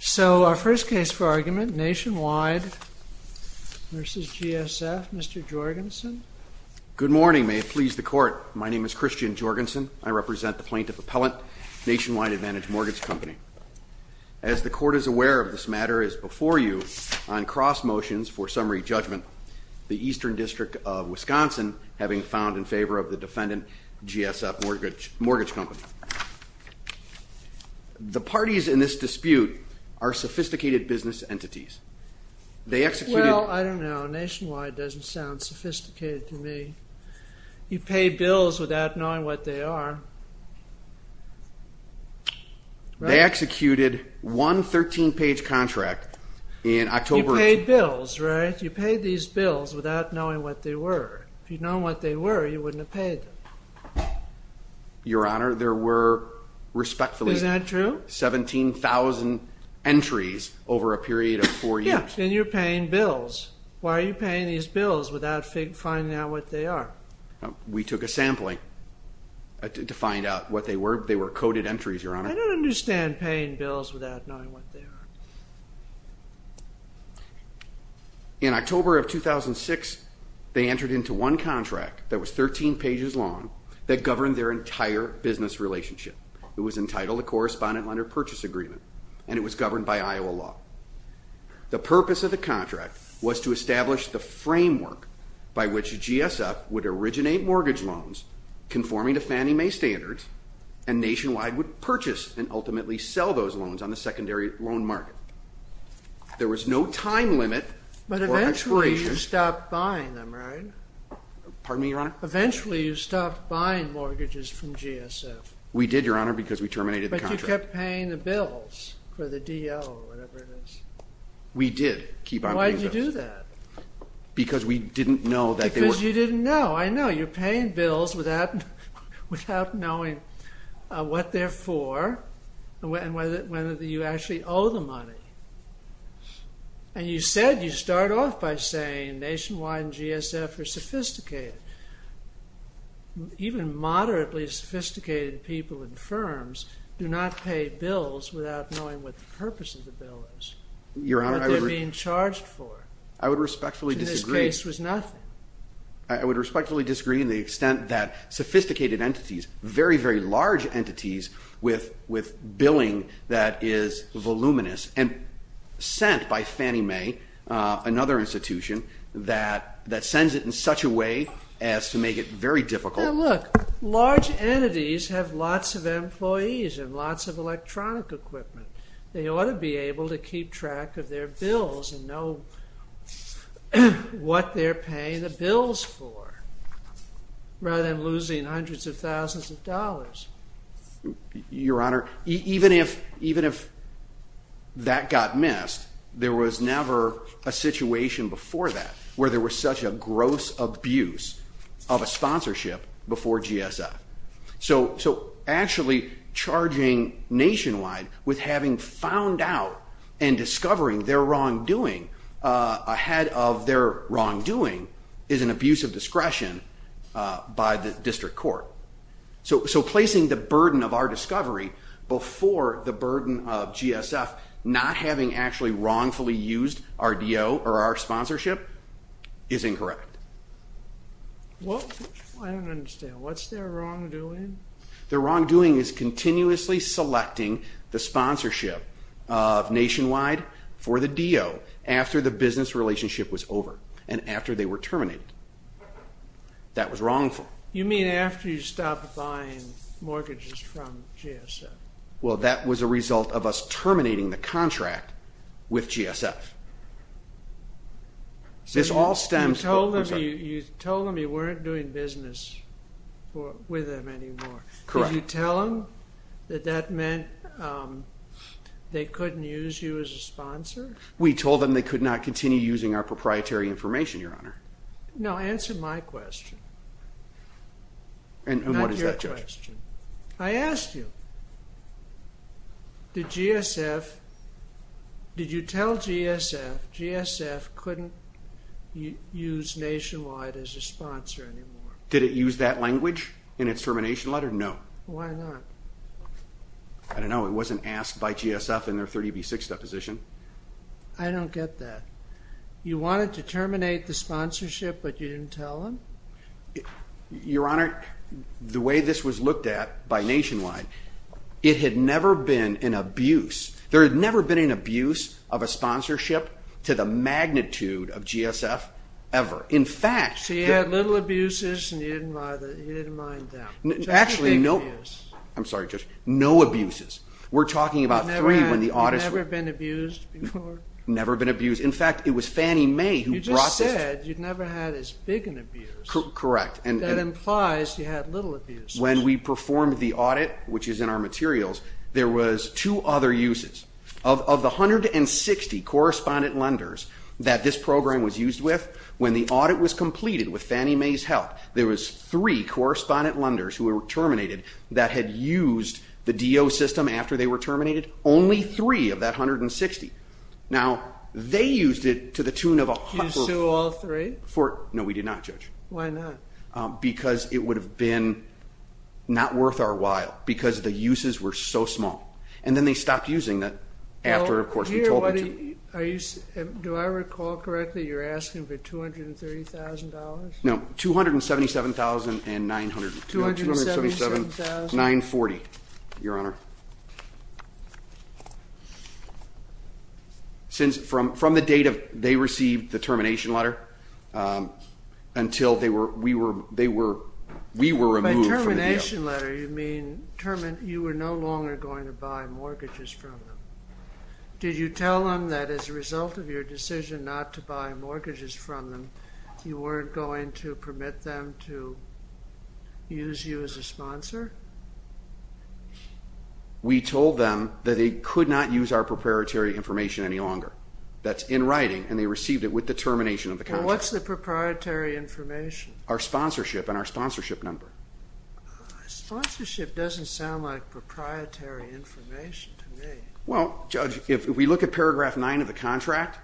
So our first case for argument, Nationwide v. GSF, Mr. Jorgensen. Good morning, may it please the court. My name is Christian Jorgensen. I represent the plaintiff appellant, Nationwide Advantage Mortgage Company. As the court is aware, this matter is before you on cross motions for summary judgment. The Eastern District of Wisconsin, having found in favor of the defendant, GSF Mortgage Company. The parties in this dispute are sophisticated business entities. They executed- Well, I don't know. Nationwide doesn't sound sophisticated to me. You pay bills without knowing what they are. They executed one 13-page contract in October- You paid bills, right? You paid these bills without knowing what they were. If you'd known what they were, you wouldn't have paid them. Your Honor, there were respectfully- Is that true? 17,000 entries over a period of four years. Yeah, and you're paying bills. Why are you paying these bills without finding out what they are? We took a sampling to find out what they were. They were coded entries, Your Honor. I don't understand paying bills without knowing what they are. In October of 2006, they entered into one contract that was 13 pages long that governed their entire business relationship. It was entitled a Correspondent Lender Purchase Agreement, and it was governed by Iowa law. The purpose of the contract was to establish the framework by which GSF would originate mortgage loans conforming to Fannie Mae standards, and Nationwide would purchase and ultimately sell those loans on the secondary loan market. There was no time limit for expiration. But eventually you stopped buying them, right? Pardon me, Your Honor? Eventually you stopped buying mortgages from GSF. We did, Your Honor, because we terminated the contract. But you kept paying the bills for the DL or whatever it is. We did keep on paying those. Why did you do that? Because we didn't know that they were- Because you didn't know. I know you're paying bills without knowing what they're for and whether you actually owe the money. And you said you start off by saying Nationwide and GSF are sophisticated. Even moderately sophisticated people in firms do not pay bills without knowing what the purpose of the bill is, what they're being charged for, which in this case was nothing. I would respectfully disagree in the extent that sophisticated entities, very, very large entities with billing that is voluminous and sent by Fannie Mae, another institution, that sends it in such a way as to make it very difficult. Look, large entities have lots of employees and lots of electronic equipment. They ought to be able to keep track of their bills and know what they're paying the bills for rather than losing hundreds of thousands of dollars. Your Honor, even if that got missed, there was never a situation before that where there was such a gross abuse of a sponsorship before GSF. So actually charging Nationwide with having found out and discovering their wrongdoing ahead of their wrongdoing is an abuse of discretion by the district court. So placing the burden of our discovery before the burden of GSF not having actually wrongfully used our D.O. or our sponsorship is incorrect. Well, I don't understand. What's their wrongdoing? Their wrongdoing is continuously selecting the sponsorship of Nationwide for the D.O. after the business relationship was over and after they were terminated. That was wrongful. You mean after you stopped buying mortgages from GSF? Well, that was a result of us terminating the contract with GSF. So you told them you weren't doing business with them anymore. Correct. Did you tell them that that meant they couldn't use you as a sponsor? We told them they could not continue using our proprietary information, Your Honor. No, answer my question, not your question. And what is that, Judge? I asked you, did you tell GSF, GSF couldn't use Nationwide as a sponsor anymore? Did it use that language in its termination letter? No. Why not? I don't know. It wasn't asked by GSF in their 30B6 deposition. I don't get that. You wanted to terminate the sponsorship, but you didn't tell them? Your Honor, the way this was looked at by Nationwide, it had never been an abuse. There had never been an abuse of a sponsorship to the magnitude of GSF ever. In fact, the- So you had little abuses, and you didn't mind them. Actually, no. I'm sorry, Judge. No abuses. We're talking about three when the audits- Never been abused before? Never been abused. In fact, it was Fannie Mae who brought this- You just said you'd never had as big an abuse. Correct. And that implies you had little abuse. When we performed the audit, which is in our materials, there was two other uses. Of the 160 correspondent lenders that this program was used with, when the audit was completed with Fannie Mae's help, there was three correspondent lenders who were terminated that had used the DO system after they were terminated. Only three of that 160. Now, they used it to the tune of a- You sued all three? No, we did not, Judge. Why not? Because it would have been not worth our while, because the uses were so small. And then they stopped using that after, of course, we told them to. Do I recall correctly you're asking for $230,000? No, $277,940, Your Honor. Since, from the date they received the termination letter, until we were removed from the deal- By termination letter, you mean you were no longer going to buy mortgages from them. Did you tell them that as a result of your decision not to buy mortgages from them, We told them that they could not use our proprietary information any longer. That's in writing, and they received it with the termination of the contract. What's the proprietary information? Our sponsorship and our sponsorship number. Sponsorship doesn't sound like proprietary information to me. Well, Judge, if we look at paragraph 9 of the contract,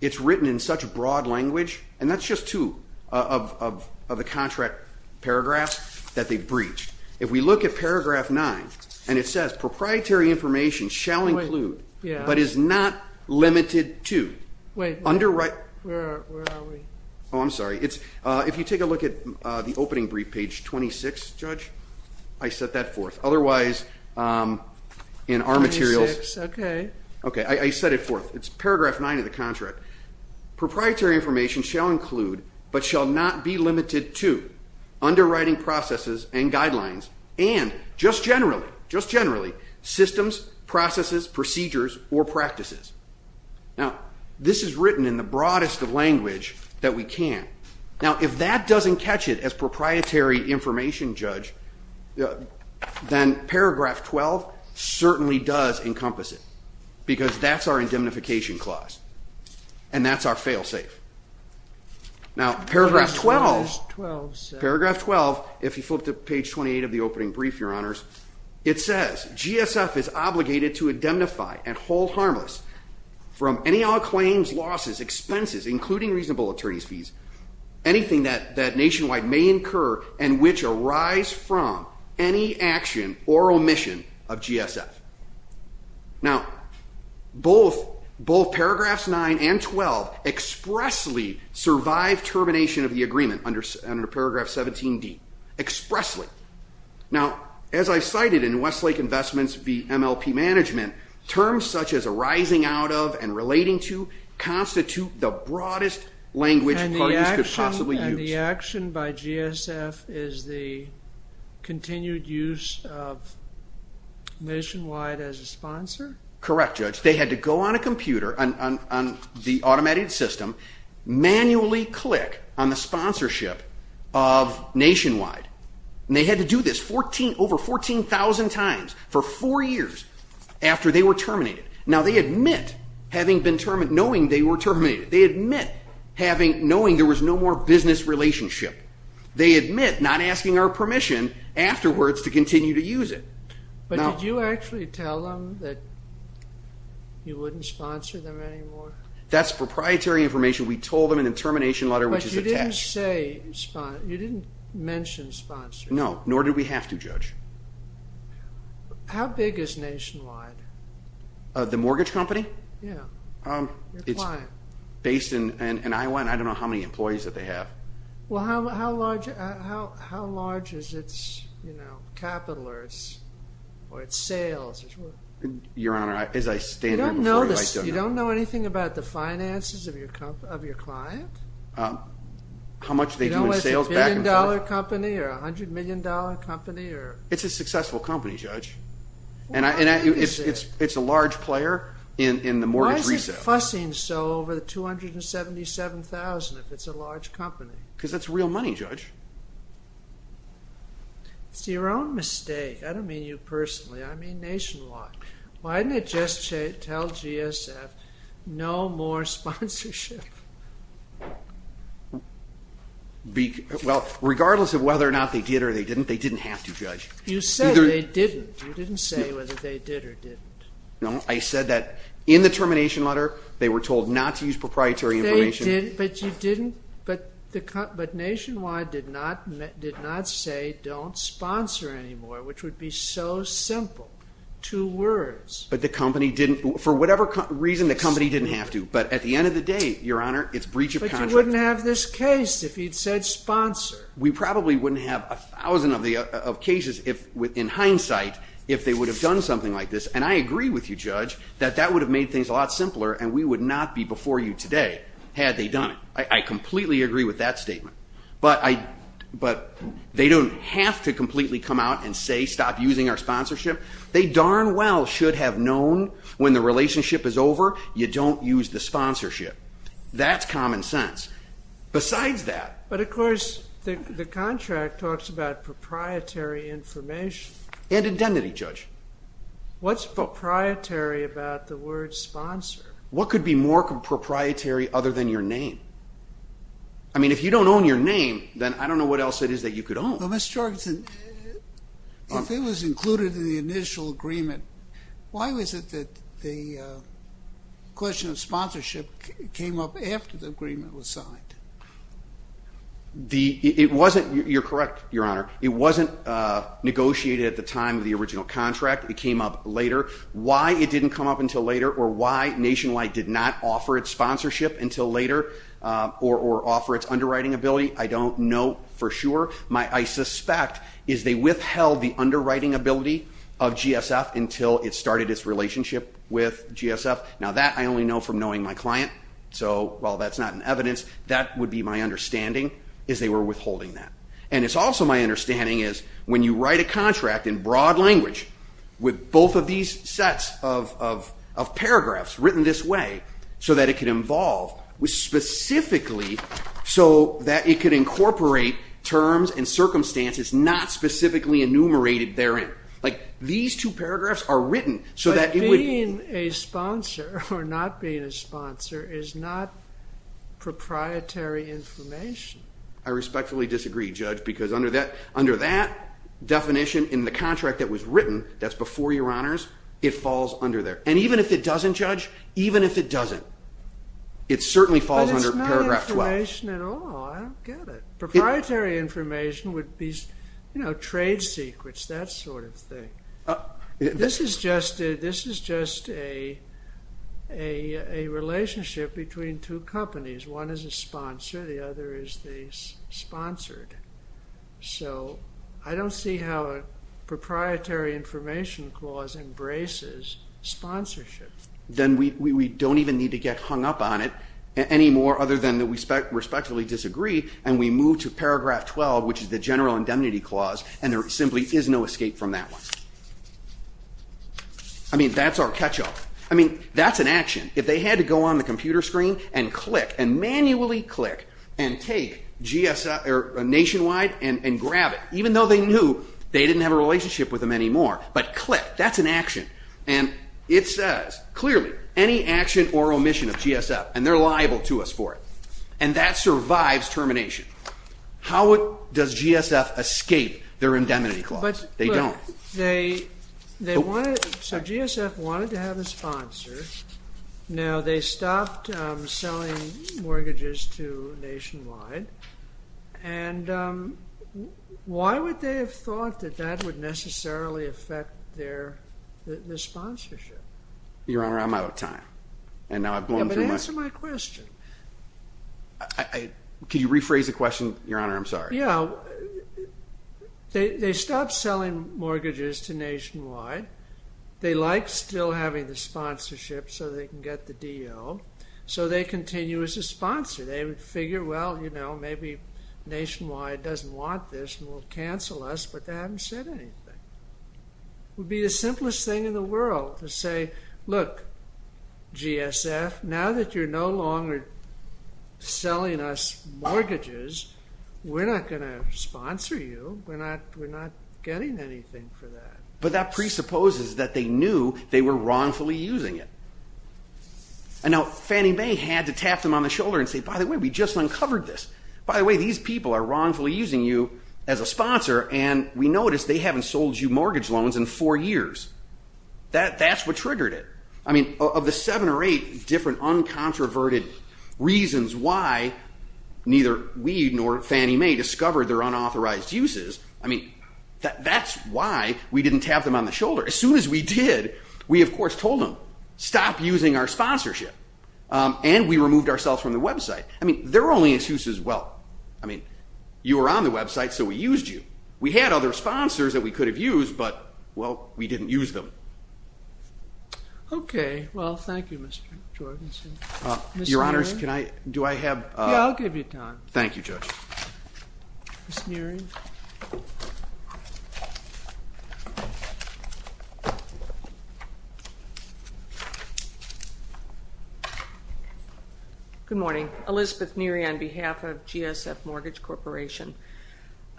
it's written in such broad language, and that's just two of the contract paragraphs that they breached. If we look at paragraph 9, and it says, proprietary information shall include, but is not limited to, underwriting- Wait, where are we? Oh, I'm sorry. If you take a look at the opening brief, page 26, Judge, I set that forth. Otherwise, in our materials- 26, okay. Okay, I set it forth. It's paragraph 9 of the contract. Proprietary information shall include, but shall not be limited to, underwriting processes and guidelines, and just generally, just generally, systems, processes, procedures, or practices. Now, this is written in the broadest of language that we can. Now, if that doesn't catch it as proprietary information, Judge, then paragraph 12 certainly does encompass it, because that's our indemnification clause, and that's our fail-safe. Now, paragraph 12, if you flip to page 28 of the opening brief, Your Honors, it says, GSF is obligated to indemnify and hold harmless from any all claims, losses, expenses, including reasonable attorney's fees, anything that nationwide may incur and which arise from any action or omission of GSF. Now, both paragraphs 9 and 12 expressly survive termination of the agreement under paragraph 17D, expressly. Now, as I cited in Westlake Investments v. MLP Management, terms such as arising out of and relating to constitute the broadest language parties could possibly use. The action by GSF is the continued use of Nationwide as a sponsor? Correct, Judge. They had to go on a computer, on the automated system, manually click on the sponsorship of Nationwide. And they had to do this over 14,000 times for four years after they were terminated. Now, they admit having been terminated, knowing they were terminated. They admit having, knowing there was no more business relationship. They admit not asking our permission afterwards to continue to use it. But did you actually tell them that you wouldn't sponsor them anymore? That's proprietary information. We told them in the termination letter, which is attached. But you didn't say, you didn't mention sponsoring. No, nor did we have to, Judge. How big is Nationwide? The mortgage company? Yeah, your client. It's based in Iowa, and I don't know how many employees that they have. Well, how large is its capital, or its sales? Your Honor, as I stand here before you, I don't know. You don't know anything about the finances of your client? How much they do in sales back and forth? You don't know if it's a billion dollar company, or a $100 million company, or? It's a successful company, Judge. And it's a large player in the mortgage resale. Why is it fussing so over the $277,000 if it's a large company? Because it's real money, Judge. It's your own mistake. I don't mean you personally. I mean Nationwide. Why didn't it just tell GSF no more sponsorship? Well, regardless of whether or not they did or they didn't, they didn't have to, Judge. You said they didn't. You didn't say whether they did or didn't. No, I said that in the termination letter, they were told not to use proprietary information. But you didn't, but Nationwide did not say don't sponsor anymore, which would be so simple. Two words. But the company didn't, for whatever reason, the company didn't have to. But at the end of the day, your Honor, it's breach of contract. But you wouldn't have this case if you'd said sponsor. We probably wouldn't have a thousand of cases in hindsight if they would have done something like this. And I agree with you, Judge, that that would have made things a lot simpler and we would not be before you today had they done it. I completely agree with that statement. But they don't have to completely come out and say stop using our sponsorship. They darn well should have known when the relationship is over, you don't use the sponsorship. That's common sense. Besides that. But of course, the contract talks about proprietary information. And identity, Judge. What's proprietary about the word sponsor? What could be more proprietary other than your name? I mean, if you don't own your name, then I don't know what else it is that you could own. But Mr. Jorgensen, if it was included in the initial agreement, why was it that the question of sponsorship came up after the agreement was signed? It wasn't, you're correct, Your Honor, it wasn't negotiated at the time of the original contract. It came up later. Why it didn't come up until later or why Nationwide did not offer its sponsorship until later or offer its underwriting ability, I don't know for sure. My, I suspect, is they withheld the underwriting ability of GSF until it started its relationship with GSF. So while that's not an evidence, that would be my understanding, is they were withholding that. And it's also my understanding is when you write a contract in broad language with both of these sets of paragraphs written this way, so that it could involve specifically, so that it could incorporate terms and circumstances not specifically enumerated therein. Like, these two paragraphs are written so that it would- Being a sponsor or not being a sponsor is not proprietary information. I respectfully disagree, Judge, because under that definition in the contract that was written, that's before your honors, it falls under there. And even if it doesn't, Judge, even if it doesn't, it certainly falls under paragraph 12. But it's not information at all, I don't get it. Proprietary information would be, you know, trade secrets, that sort of thing. This is just a relationship between two companies. One is a sponsor, the other is the sponsored. So I don't see how a proprietary information clause embraces sponsorship. Then we don't even need to get hung up on it anymore, other than that we respectfully disagree, and we move to paragraph 12, which is the general indemnity clause, and there simply is no escape from that one. I mean, that's our catch-all. I mean, that's an action. If they had to go on the computer screen and click, and manually click, and take nationwide and grab it, even though they knew they didn't have a relationship with them anymore. But click, that's an action. And it says, clearly, any action or omission of GSF, and they're liable to us for it, and that survives termination. How does GSF escape their indemnity clause? They don't. So GSF wanted to have a sponsor. Now, they stopped selling mortgages to Nationwide. And why would they have thought that that would necessarily affect their sponsorship? Your Honor, I'm out of time. But answer my question. Could you rephrase the question, Your Honor? I'm sorry. Yeah. They stopped selling mortgages to Nationwide. They like still having the sponsorship so they can get the DO. So they continue as a sponsor. They figure, well, you know, maybe Nationwide doesn't want this and will cancel us, but they haven't said anything. It would be the simplest thing in the world to say, look, GSF, now that you're no longer selling us mortgages, we're not going to sponsor you. We're not getting anything for that. But that presupposes that they knew they were wrongfully using it. And now Fannie Mae had to tap them on the shoulder and say, by the way, we just uncovered this. By the way, these people are wrongfully using you as a sponsor, and we noticed they haven't sold you mortgage loans in four years. That's what triggered it. I mean, of the seven or eight different uncontroverted reasons why neither we nor Fannie Mae discovered their unauthorized uses, I mean, that's why we didn't tap them on the shoulder. As soon as we did, we, of course, told them, stop using our sponsorship. And we removed ourselves from the website. I mean, there were only excuses. Well, I mean, you were on the website, so we used you. We had other sponsors that we could have used, but, well, we didn't use them. OK. Well, thank you, Mr. Jorgensen. Your Honors, do I have? Yeah, I'll give you time. Thank you, Judge. Ms. Neary. Good morning. Elizabeth Neary on behalf of GSF Mortgage Corporation.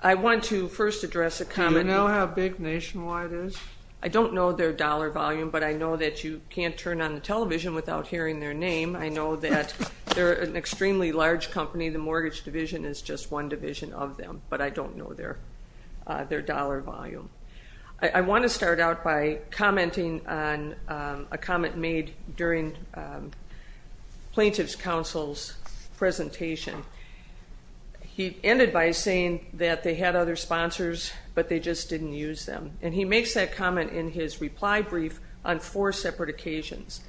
I want to first address a comment. Do you know how big Nationwide is? I don't know their dollar volume, but I know that you can't turn on the television without hearing their name. I know that they're an extremely large company. The mortgage division is just one division of them, but I don't know their dollar volume. I want to start out by commenting on a comment made during Plaintiff's Counsel's presentation. He ended by saying that they had other sponsors, but they just didn't use them. And he makes that comment in his reply brief on four separate occasions.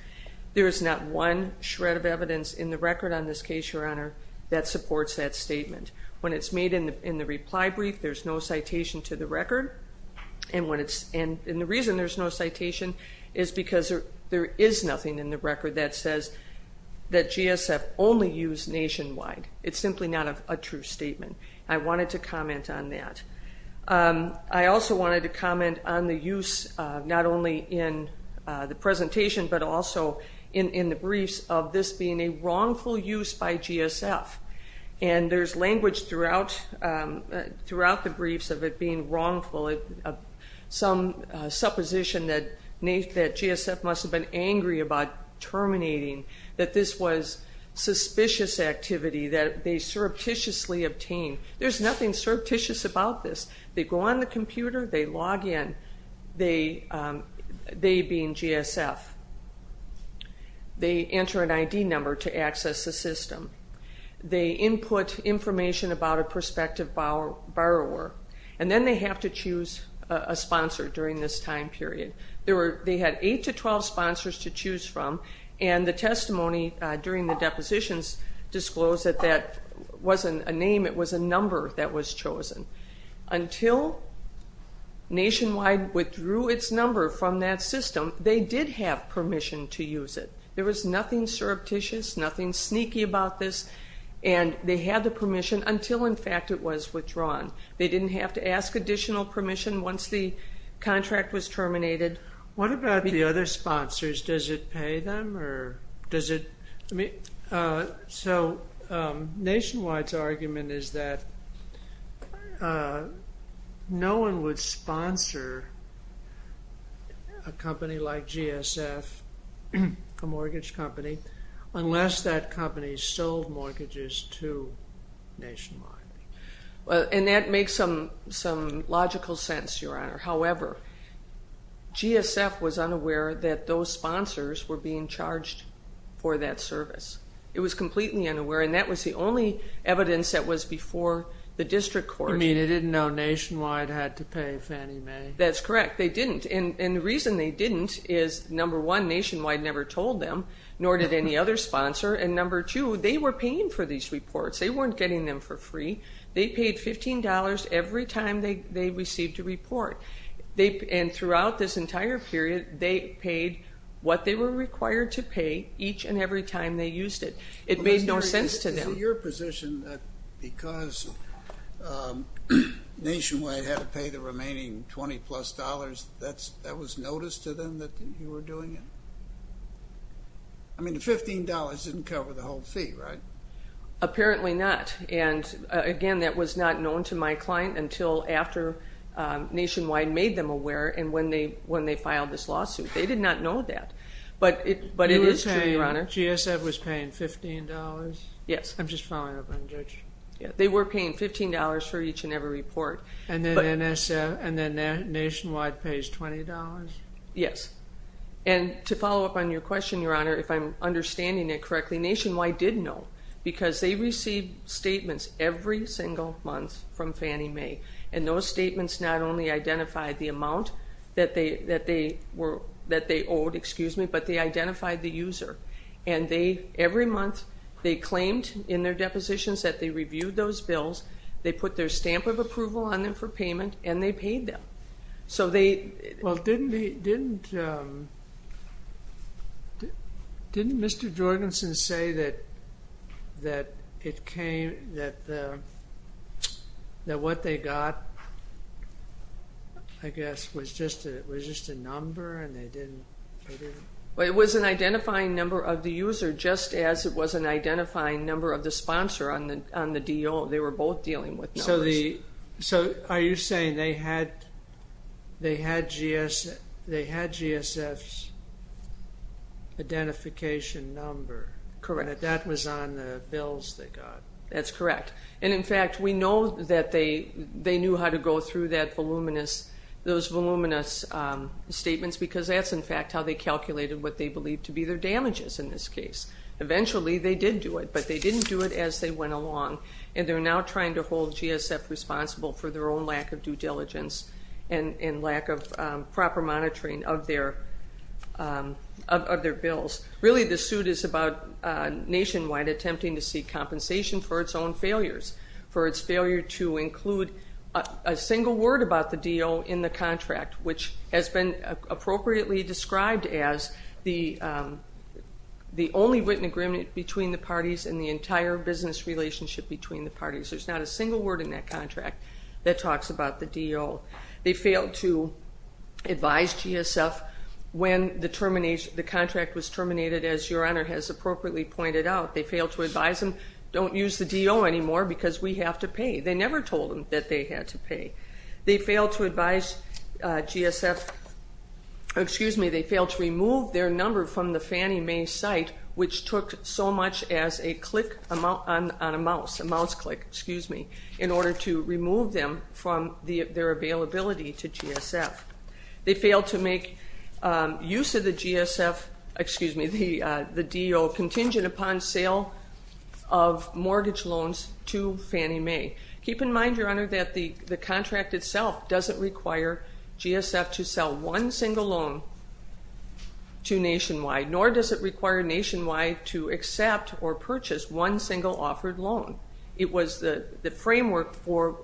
There is not one shred of evidence in the record on this case, Your Honor, that supports that statement. When it's made in the reply brief, there's no citation to the record. And the reason there's no citation is because there is nothing in the record that says that GSF only used Nationwide. It's simply not a true statement. I wanted to comment on that. I also wanted to comment on the use, not only in the presentation, but also in the briefs of this being a wrongful use by GSF. And there's language throughout the briefs of it being wrongful, some supposition that GSF must have been angry about terminating, that this was suspicious activity, that they surreptitiously obtained. There's nothing surreptitious about this. They go on the computer. They log in, they being GSF. They enter an ID number to access the system. They input information about a prospective borrower. And then they have to choose a sponsor during this time period. They had eight to 12 sponsors to choose from, and the testimony during the depositions disclosed that that wasn't a name, it was a number that was chosen. Until Nationwide withdrew its number from that system, they did have permission to use it. There was nothing surreptitious, nothing sneaky about this, and they had the permission until, in fact, it was withdrawn. They didn't have to ask additional permission once the contract was terminated. What about the other sponsors? Does it pay them or does it? So Nationwide's argument is that no one would sponsor a company like GSF, a mortgage company, unless that company sold mortgages to Nationwide. However, GSF was unaware that those sponsors were being charged for that service. It was completely unaware, and that was the only evidence that was before the district court. You mean they didn't know Nationwide had to pay Fannie Mae? That's correct. They didn't, and the reason they didn't is, number one, Nationwide never told them, nor did any other sponsor, and number two, they were paying for these reports. They weren't getting them for free. They paid $15 every time they received a report, and throughout this entire period, they paid what they were required to pay each and every time they used it. It made no sense to them. Is it your position that because Nationwide had to pay the remaining $20-plus, that was notice to them that you were doing it? I mean, the $15 didn't cover the whole fee, right? Apparently not, and again, that was not known to my client until after Nationwide made them aware and when they filed this lawsuit. They did not know that, but it is true, Your Honor. GSF was paying $15? Yes. I'm just following up on Judge. They were paying $15 for each and every report. And then Nationwide pays $20? Yes, and to follow up on your question, Your Honor, if I'm understanding it correctly, Nationwide did know because they received statements every single month from Fannie Mae, and those statements not only identified the amount that they owed, but they identified the user. And every month they claimed in their depositions that they reviewed those bills, they put their stamp of approval on them for payment, and they paid them. Well, didn't Mr. Jorgensen say that what they got, I guess, was just a number and they didn't? Well, it was an identifying number of the user just as it was an identifying number of the sponsor on the deal. They were both dealing with numbers. So are you saying they had GSF's identification number? Correct. And that that was on the bills they got? That's correct. And, in fact, we know that they knew how to go through those voluminous statements because that's, in fact, how they calculated what they believed to be their damages in this case. Eventually they did do it, but they didn't do it as they went along, and they're now trying to hold GSF responsible for their own lack of due diligence and lack of proper monitoring of their bills. Really, this suit is about nationwide attempting to seek compensation for its own failures, for its failure to include a single word about the deal in the contract, which has been appropriately described as the only written agreement between the parties and the entire business relationship between the parties. There's not a single word in that contract that talks about the deal. They failed to advise GSF when the contract was terminated, as Your Honor has appropriately pointed out. They failed to advise them, don't use the deal anymore because we have to pay. They never told them that they had to pay. They failed to advise GSF, excuse me, they failed to remove their number from the Fannie Mae site, which took so much as a click on a mouse, a mouse click, excuse me, in order to remove them from their availability to GSF. They failed to make use of the GSF, excuse me, the deal contingent upon sale of mortgage loans to Fannie Mae. Keep in mind, Your Honor, that the contract itself doesn't require GSF to sell one single loan to Nationwide, nor does it require Nationwide to accept or purchase one single offered loan. It was the framework for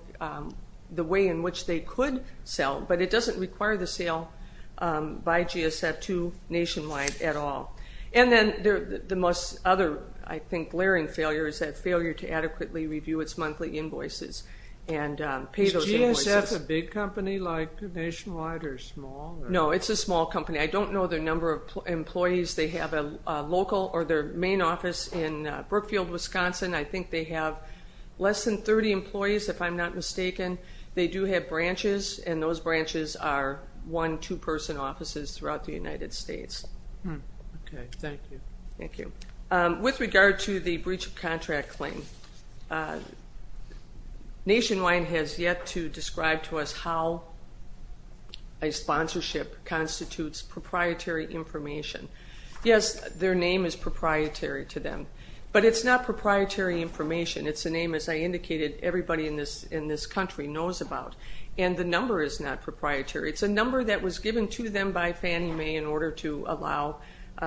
the way in which they could sell, but it doesn't require the sale by GSF to Nationwide at all. And then the most other, I think, glaring failure is that failure to adequately review its monthly invoices and pay those invoices. Is GSF a big company like Nationwide or small? No, it's a small company. I don't know their number of employees. They have a local or their main office in Brookfield, Wisconsin. I think they have less than 30 employees, if I'm not mistaken. They do have branches, and those branches are one, two-person offices throughout the United States. Okay, thank you. Thank you. With regard to the breach of contract claim, Nationwide has yet to describe to us how a sponsorship constitutes proprietary information. Yes, their name is proprietary to them, but it's not proprietary information. It's a name, as I indicated, everybody in this country knows about, and the number is not proprietary. It's a number that was given to them by Fannie Mae in order to allow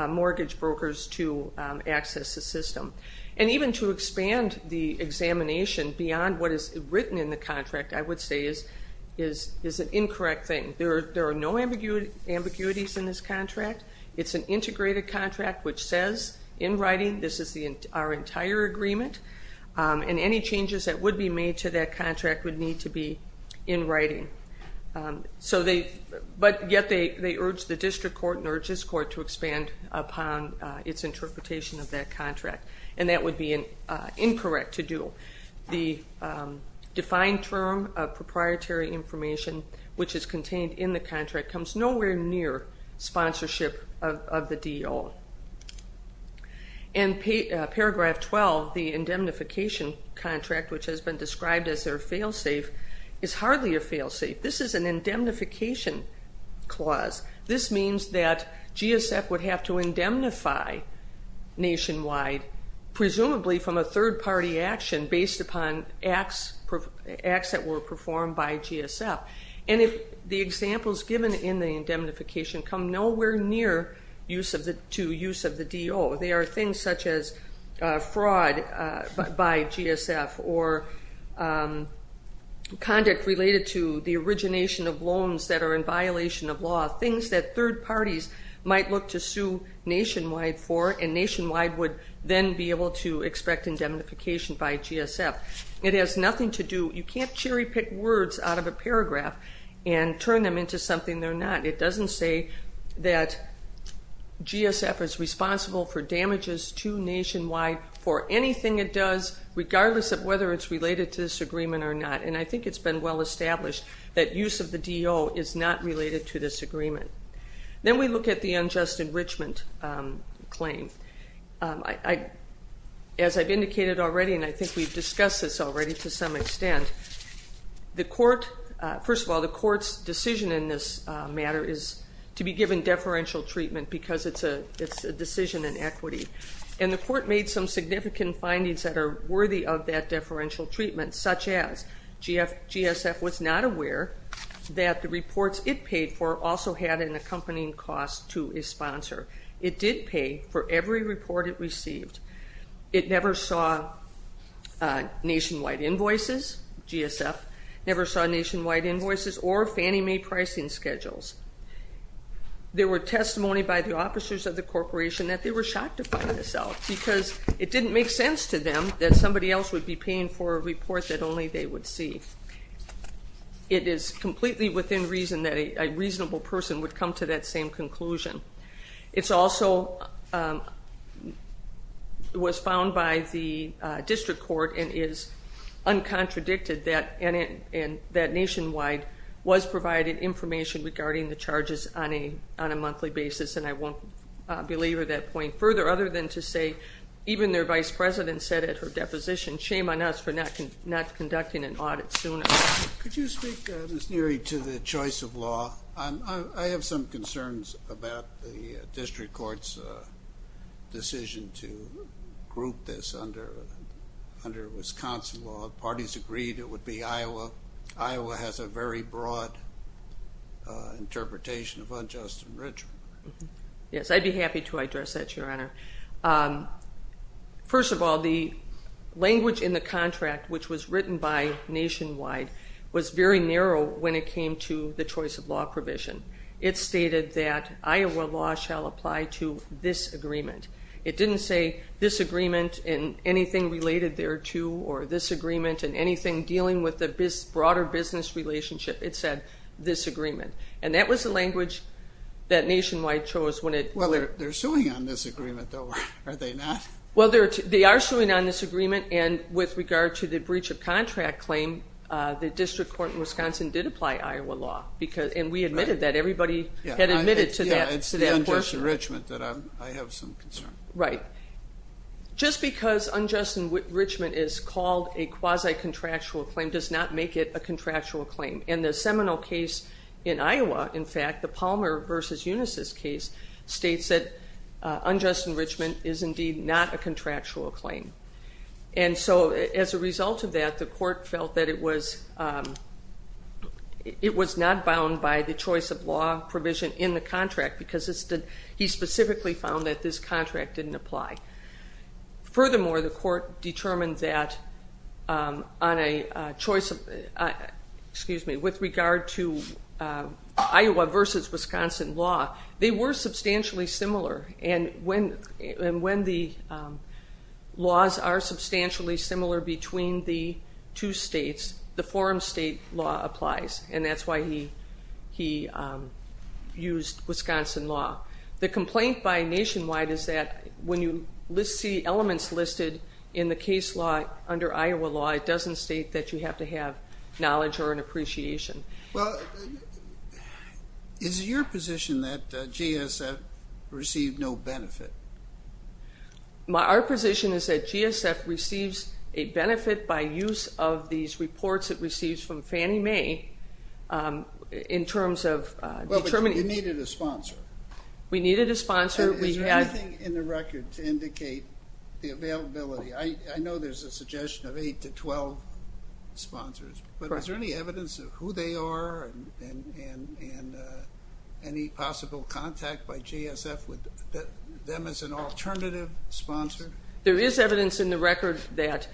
mortgage brokers to access the system. And even to expand the examination beyond what is written in the contract, I would say, is an incorrect thing. There are no ambiguities in this contract. It's an integrated contract which says in writing this is our entire agreement, and any changes that would be made to that contract would need to be in writing. But yet they urge the district court and urge this court to expand upon its interpretation of that contract, and that would be incorrect to do. The defined term of proprietary information, which is contained in the contract, comes nowhere near sponsorship of the DEO. And paragraph 12, the indemnification contract, which has been described as their fail-safe, is hardly a fail-safe. This is an indemnification clause. This means that GSF would have to indemnify Nationwide, presumably from a third-party action, based upon acts that were performed by GSF. And the examples given in the indemnification come nowhere near to use of the DEO. They are things such as fraud by GSF or conduct related to the origination of loans that are in violation of law, things that third parties might look to sue Nationwide for, and Nationwide would then be able to expect indemnification by GSF. It has nothing to do, you can't cherry-pick words out of a paragraph and turn them into something they're not. It doesn't say that GSF is responsible for damages to Nationwide for anything it does, regardless of whether it's related to this agreement or not. And I think it's been well established that use of the DEO is not related to this agreement. Then we look at the unjust enrichment claim. As I've indicated already, and I think we've discussed this already to some extent, first of all, the court's decision in this matter is to be given deferential treatment because it's a decision in equity. And the court made some significant findings that are worthy of that deferential treatment, such as GSF was not aware that the reports it paid for also had an accompanying cost to a sponsor. It did pay for every report it received. It never saw Nationwide invoices, GSF never saw Nationwide invoices or Fannie Mae pricing schedules. There were testimony by the officers of the corporation that they were shocked to find this out because it didn't make sense to them that somebody else would be paying for a report that only they would see. It is completely within reason that a reasonable person would come to that same conclusion. It also was found by the district court and is uncontradicted that Nationwide was provided information regarding the charges on a monthly basis, and I won't belabor that point further other than to say even their vice president said at her deposition, shame on us for not conducting an audit sooner. Could you speak, Ms. Neary, to the choice of law? I have some concerns about the district court's decision to group this under Wisconsin law. Parties agreed it would be Iowa. Iowa has a very broad interpretation of unjust enrichment. Yes, I'd be happy to address that, Your Honor. First of all, the language in the contract, which was written by Nationwide, was very narrow when it came to the choice of law provision. It stated that Iowa law shall apply to this agreement. It didn't say this agreement and anything related thereto or this agreement and anything dealing with the broader business relationship. It said this agreement, and that was the language that Nationwide chose. Well, they're suing on this agreement, though, are they not? Well, they are suing on this agreement, and with regard to the breach of contract claim, the district court in Wisconsin did apply Iowa law, and we admitted that. Everybody had admitted to that portion. Yeah, it's the unjust enrichment that I have some concern about. Right. Just because unjust enrichment is called a quasi-contractual claim does not make it a contractual claim. And the Seminole case in Iowa, in fact, the Palmer v. Unisys case, states that unjust enrichment is indeed not a contractual claim. And so as a result of that, the court felt that it was not bound by the choice of law provision in the contract because he specifically found that this contract didn't apply. Furthermore, the court determined that on a choice of, excuse me, with regard to Iowa v. Wisconsin law, they were substantially similar, and when the laws are substantially similar between the two states, the forum state law applies, and that's why he used Wisconsin law. The complaint by Nationwide is that when you see elements listed in the case law under Iowa law, it doesn't state that you have to have knowledge or an appreciation. Well, is it your position that GSF received no benefit? Our position is that GSF receives a benefit by use of these reports it receives from Fannie Mae in terms of determining. You needed a sponsor. We needed a sponsor. Is there anything in the record to indicate the availability? I know there's a suggestion of 8 to 12 sponsors, but is there any evidence of who they are and any possible contact by GSF with them as an alternative sponsor? There is evidence in the record that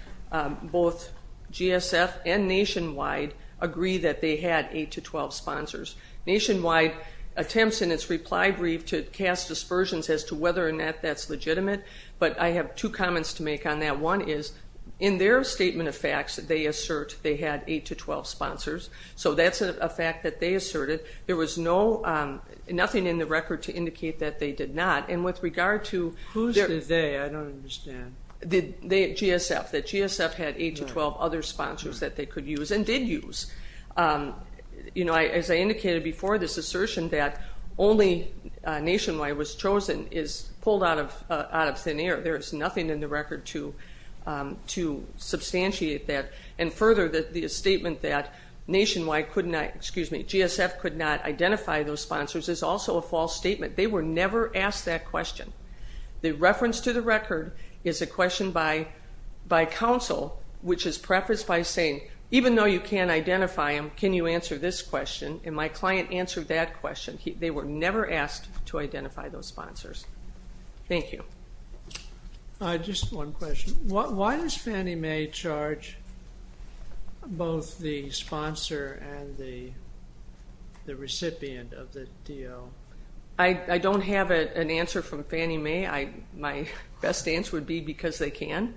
both GSF and Nationwide agree that they had 8 to 12 sponsors. Nationwide attempts in its reply brief to cast dispersions as to whether or not that's legitimate, but I have two comments to make on that. One is, in their statement of facts, they assert they had 8 to 12 sponsors, so that's a fact that they asserted. There was nothing in the record to indicate that they did not, and with regard to GSF, that GSF had 8 to 12 other sponsors that they could use and did use. As I indicated before, this assertion that only Nationwide was chosen is pulled out of thin air. There is nothing in the record to substantiate that. And further, the statement that Nationwide could not, excuse me, GSF could not identify those sponsors is also a false statement. They were never asked that question. The reference to the record is a question by counsel, which is prefaced by saying, even though you can identify them, can you answer this question? And my client answered that question. They were never asked to identify those sponsors. Thank you. Just one question. Why does Fannie Mae charge both the sponsor and the recipient of the deal? I don't have an answer from Fannie Mae. My best answer would be because they can,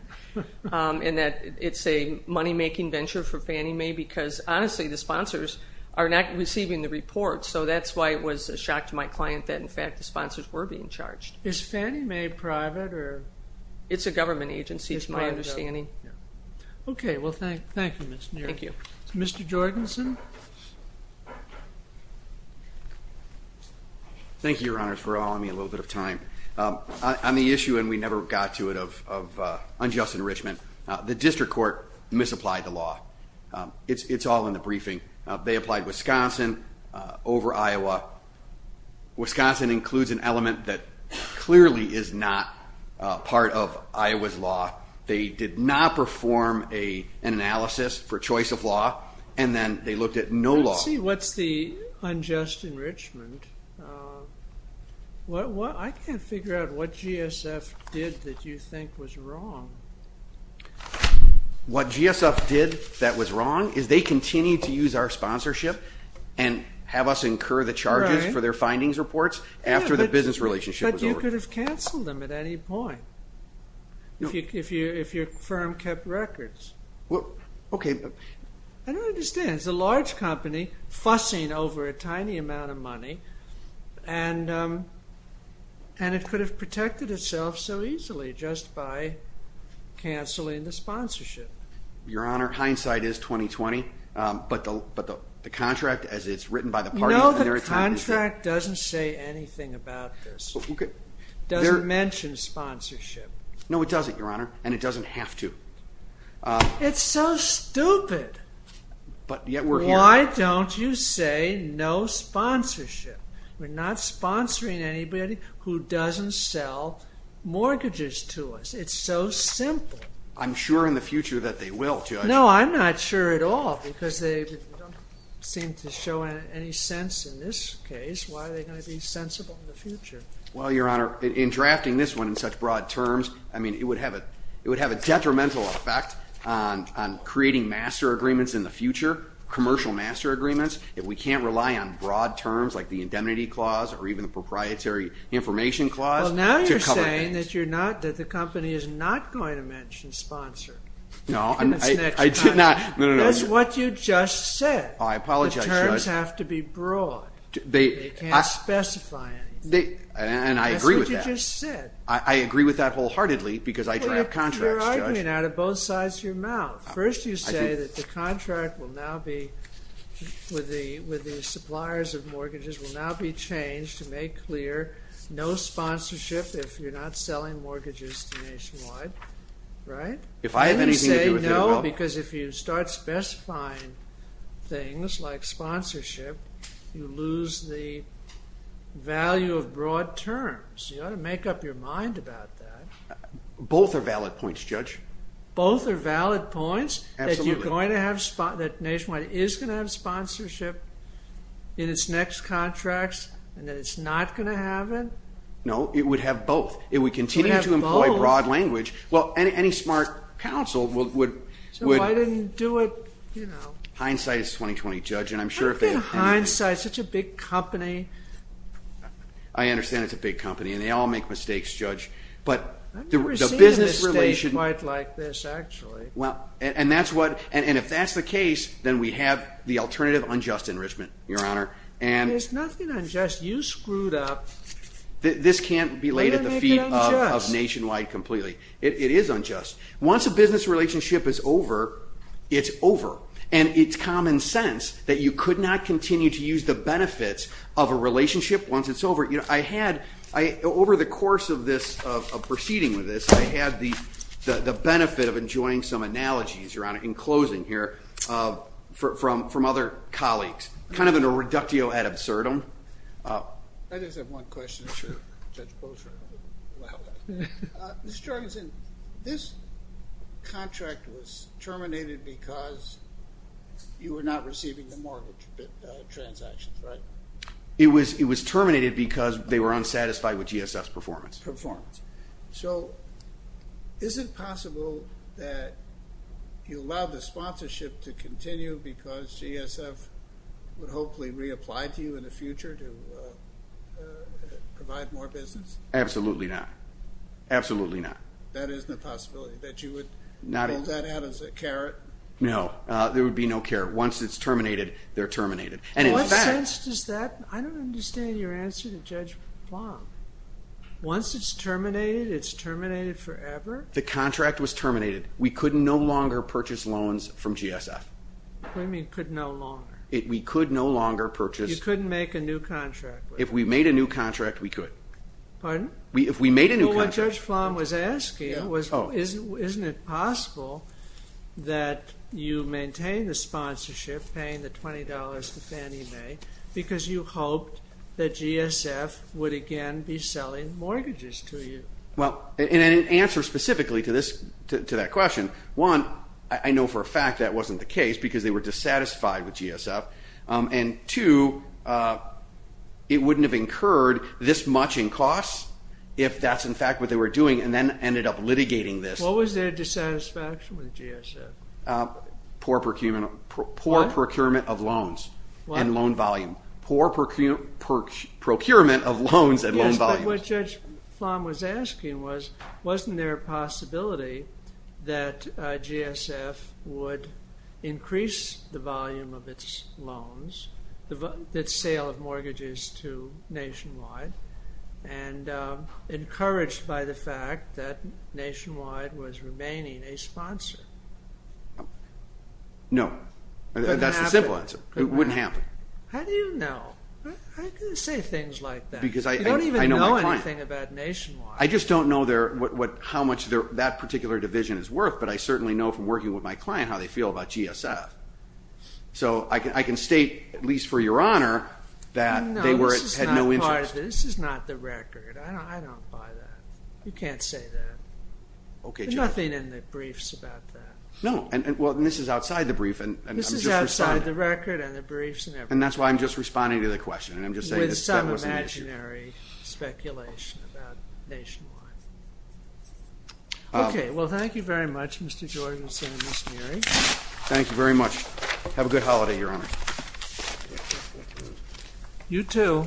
and that it's a money-making venture for Fannie Mae because, honestly, the sponsors are not receiving the report, so that's why it was a shock to my client that, in fact, the sponsors were being charged. Is Fannie Mae private? It's a government agency, is my understanding. Okay. Well, thank you, Ms. Neary. Thank you. Mr. Jorgensen? Thank you, Your Honors, for allowing me a little bit of time. On the issue, and we never got to it, of unjust enrichment, the district court misapplied the law. It's all in the briefing. They applied Wisconsin over Iowa. Wisconsin includes an element that clearly is not part of Iowa's law. They did not perform an analysis for choice of law, and then they looked at no law. Let's see, what's the unjust enrichment? I can't figure out what GSF did that you think was wrong. What GSF did that was wrong is they continued to use our sponsorship and have us incur the charges for their findings reports after the business relationship was over. They could have canceled them at any point if your firm kept records. Okay. I don't understand. It's a large company fussing over a tiny amount of money, and it could have protected itself so easily just by canceling the sponsorship. Your Honor, hindsight is 20-20, but the contract, as it's written by the parties, No, the contract doesn't say anything about this. It doesn't mention sponsorship. No, it doesn't, Your Honor, and it doesn't have to. It's so stupid. Why don't you say no sponsorship? We're not sponsoring anybody who doesn't sell mortgages to us. It's so simple. I'm sure in the future that they will, Judge. No, I'm not sure at all because they don't seem to show any sense in this case. Why are they going to be sensible in the future? Well, Your Honor, in drafting this one in such broad terms, I mean it would have a detrimental effect on creating master agreements in the future, commercial master agreements, if we can't rely on broad terms like the indemnity clause or even the proprietary information clause. Well, now you're saying that the company is not going to mention sponsor. No, I did not. That's what you just said. Oh, I apologize, Judge. The terms have to be broad. They can't specify anything. And I agree with that. That's what you just said. I agree with that wholeheartedly because I draft contracts, Judge. You're arguing out of both sides of your mouth. First you say that the contract will now be, with the suppliers of mortgages, will now be changed to make clear no sponsorship if you're not selling mortgages to Nationwide, right? If I have anything to do with it, well. You say no because if you start specifying things like sponsorship, you lose the value of broad terms. You ought to make up your mind about that. Both are valid points, Judge. Both are valid points? Absolutely. That Nationwide is going to have sponsorship in its next contracts and that it's not going to have it? No, it would have both. It would continue to employ broad language. Well, any smart counsel would. So why didn't you do it, you know. Hindsight is 20-20, Judge. I've been hindsight. It's such a big company. I understand it's a big company and they all make mistakes, Judge. I've never seen a mistake quite like this, actually. And if that's the case, then we have the alternative unjust enrichment, Your Honor. There's nothing unjust. You screwed up. This can't be laid at the feet of Nationwide completely. It is unjust. Once a business relationship is over, it's over. And it's common sense that you could not continue to use the benefits of a relationship once it's over. I had, over the course of proceeding with this, I had the benefit of enjoying some analogies, Your Honor, in closing here from other colleagues. Kind of a reductio ad absurdum. I just have one question for Judge Bolscher. Mr. Jorgensen, this contract was terminated because you were not receiving the mortgage transactions, right? It was terminated because they were unsatisfied with GSF's performance. Performance. So is it possible that you allowed the sponsorship to continue because GSF would hopefully reapply to you in the future to provide more business? Absolutely not. Absolutely not. That isn't a possibility, that you would hold that out as a carrot? No. There would be no carrot. Once it's terminated, they're terminated. And in fact— What sense does that—I don't understand your answer to Judge Plum. Once it's terminated, it's terminated forever? The contract was terminated. We could no longer purchase loans from GSF. What do you mean, could no longer? We could no longer purchase— You couldn't make a new contract with them. If we made a new contract, we could. Pardon? If we made a new contract— Well, what Judge Plum was asking was, isn't it possible that you maintain the sponsorship, paying the $20 to Fannie Mae, because you hoped that GSF would again be selling mortgages to you? Well, in an answer specifically to that question, one, I know for a fact that wasn't the case because they were dissatisfied with GSF, and two, it wouldn't have incurred this much in costs if that's in fact what they were doing and then ended up litigating this. What was their dissatisfaction with GSF? Poor procurement of loans and loan volume. What? Poor procurement of loans and loan volume. Yes, but what Judge Plum was asking was, wasn't there a possibility that GSF would increase the volume of its loans, its sale of mortgages to Nationwide, and encouraged by the fact that Nationwide was remaining a sponsor? No. That's the simple answer. It wouldn't happen. How do you know? How can you say things like that? Because I know my client. You don't even know anything about Nationwide. I just don't know how much that particular division is worth, but I certainly know from working with my client how they feel about GSF. So I can state, at least for your honor, that they had no interest. No, this is not the record. I don't buy that. You can't say that. Okay, Judge. There's nothing in the briefs about that. No, and this is outside the brief, and I'm just responding. This is outside the record and the briefs and everything. And that's why I'm just responding to the question, and I'm just saying that that was an issue. With some imaginary speculation about Nationwide. Okay. Well, thank you very much, Mr. George and Senator Musneri. Thank you very much. Have a good holiday, Your Honor. You too.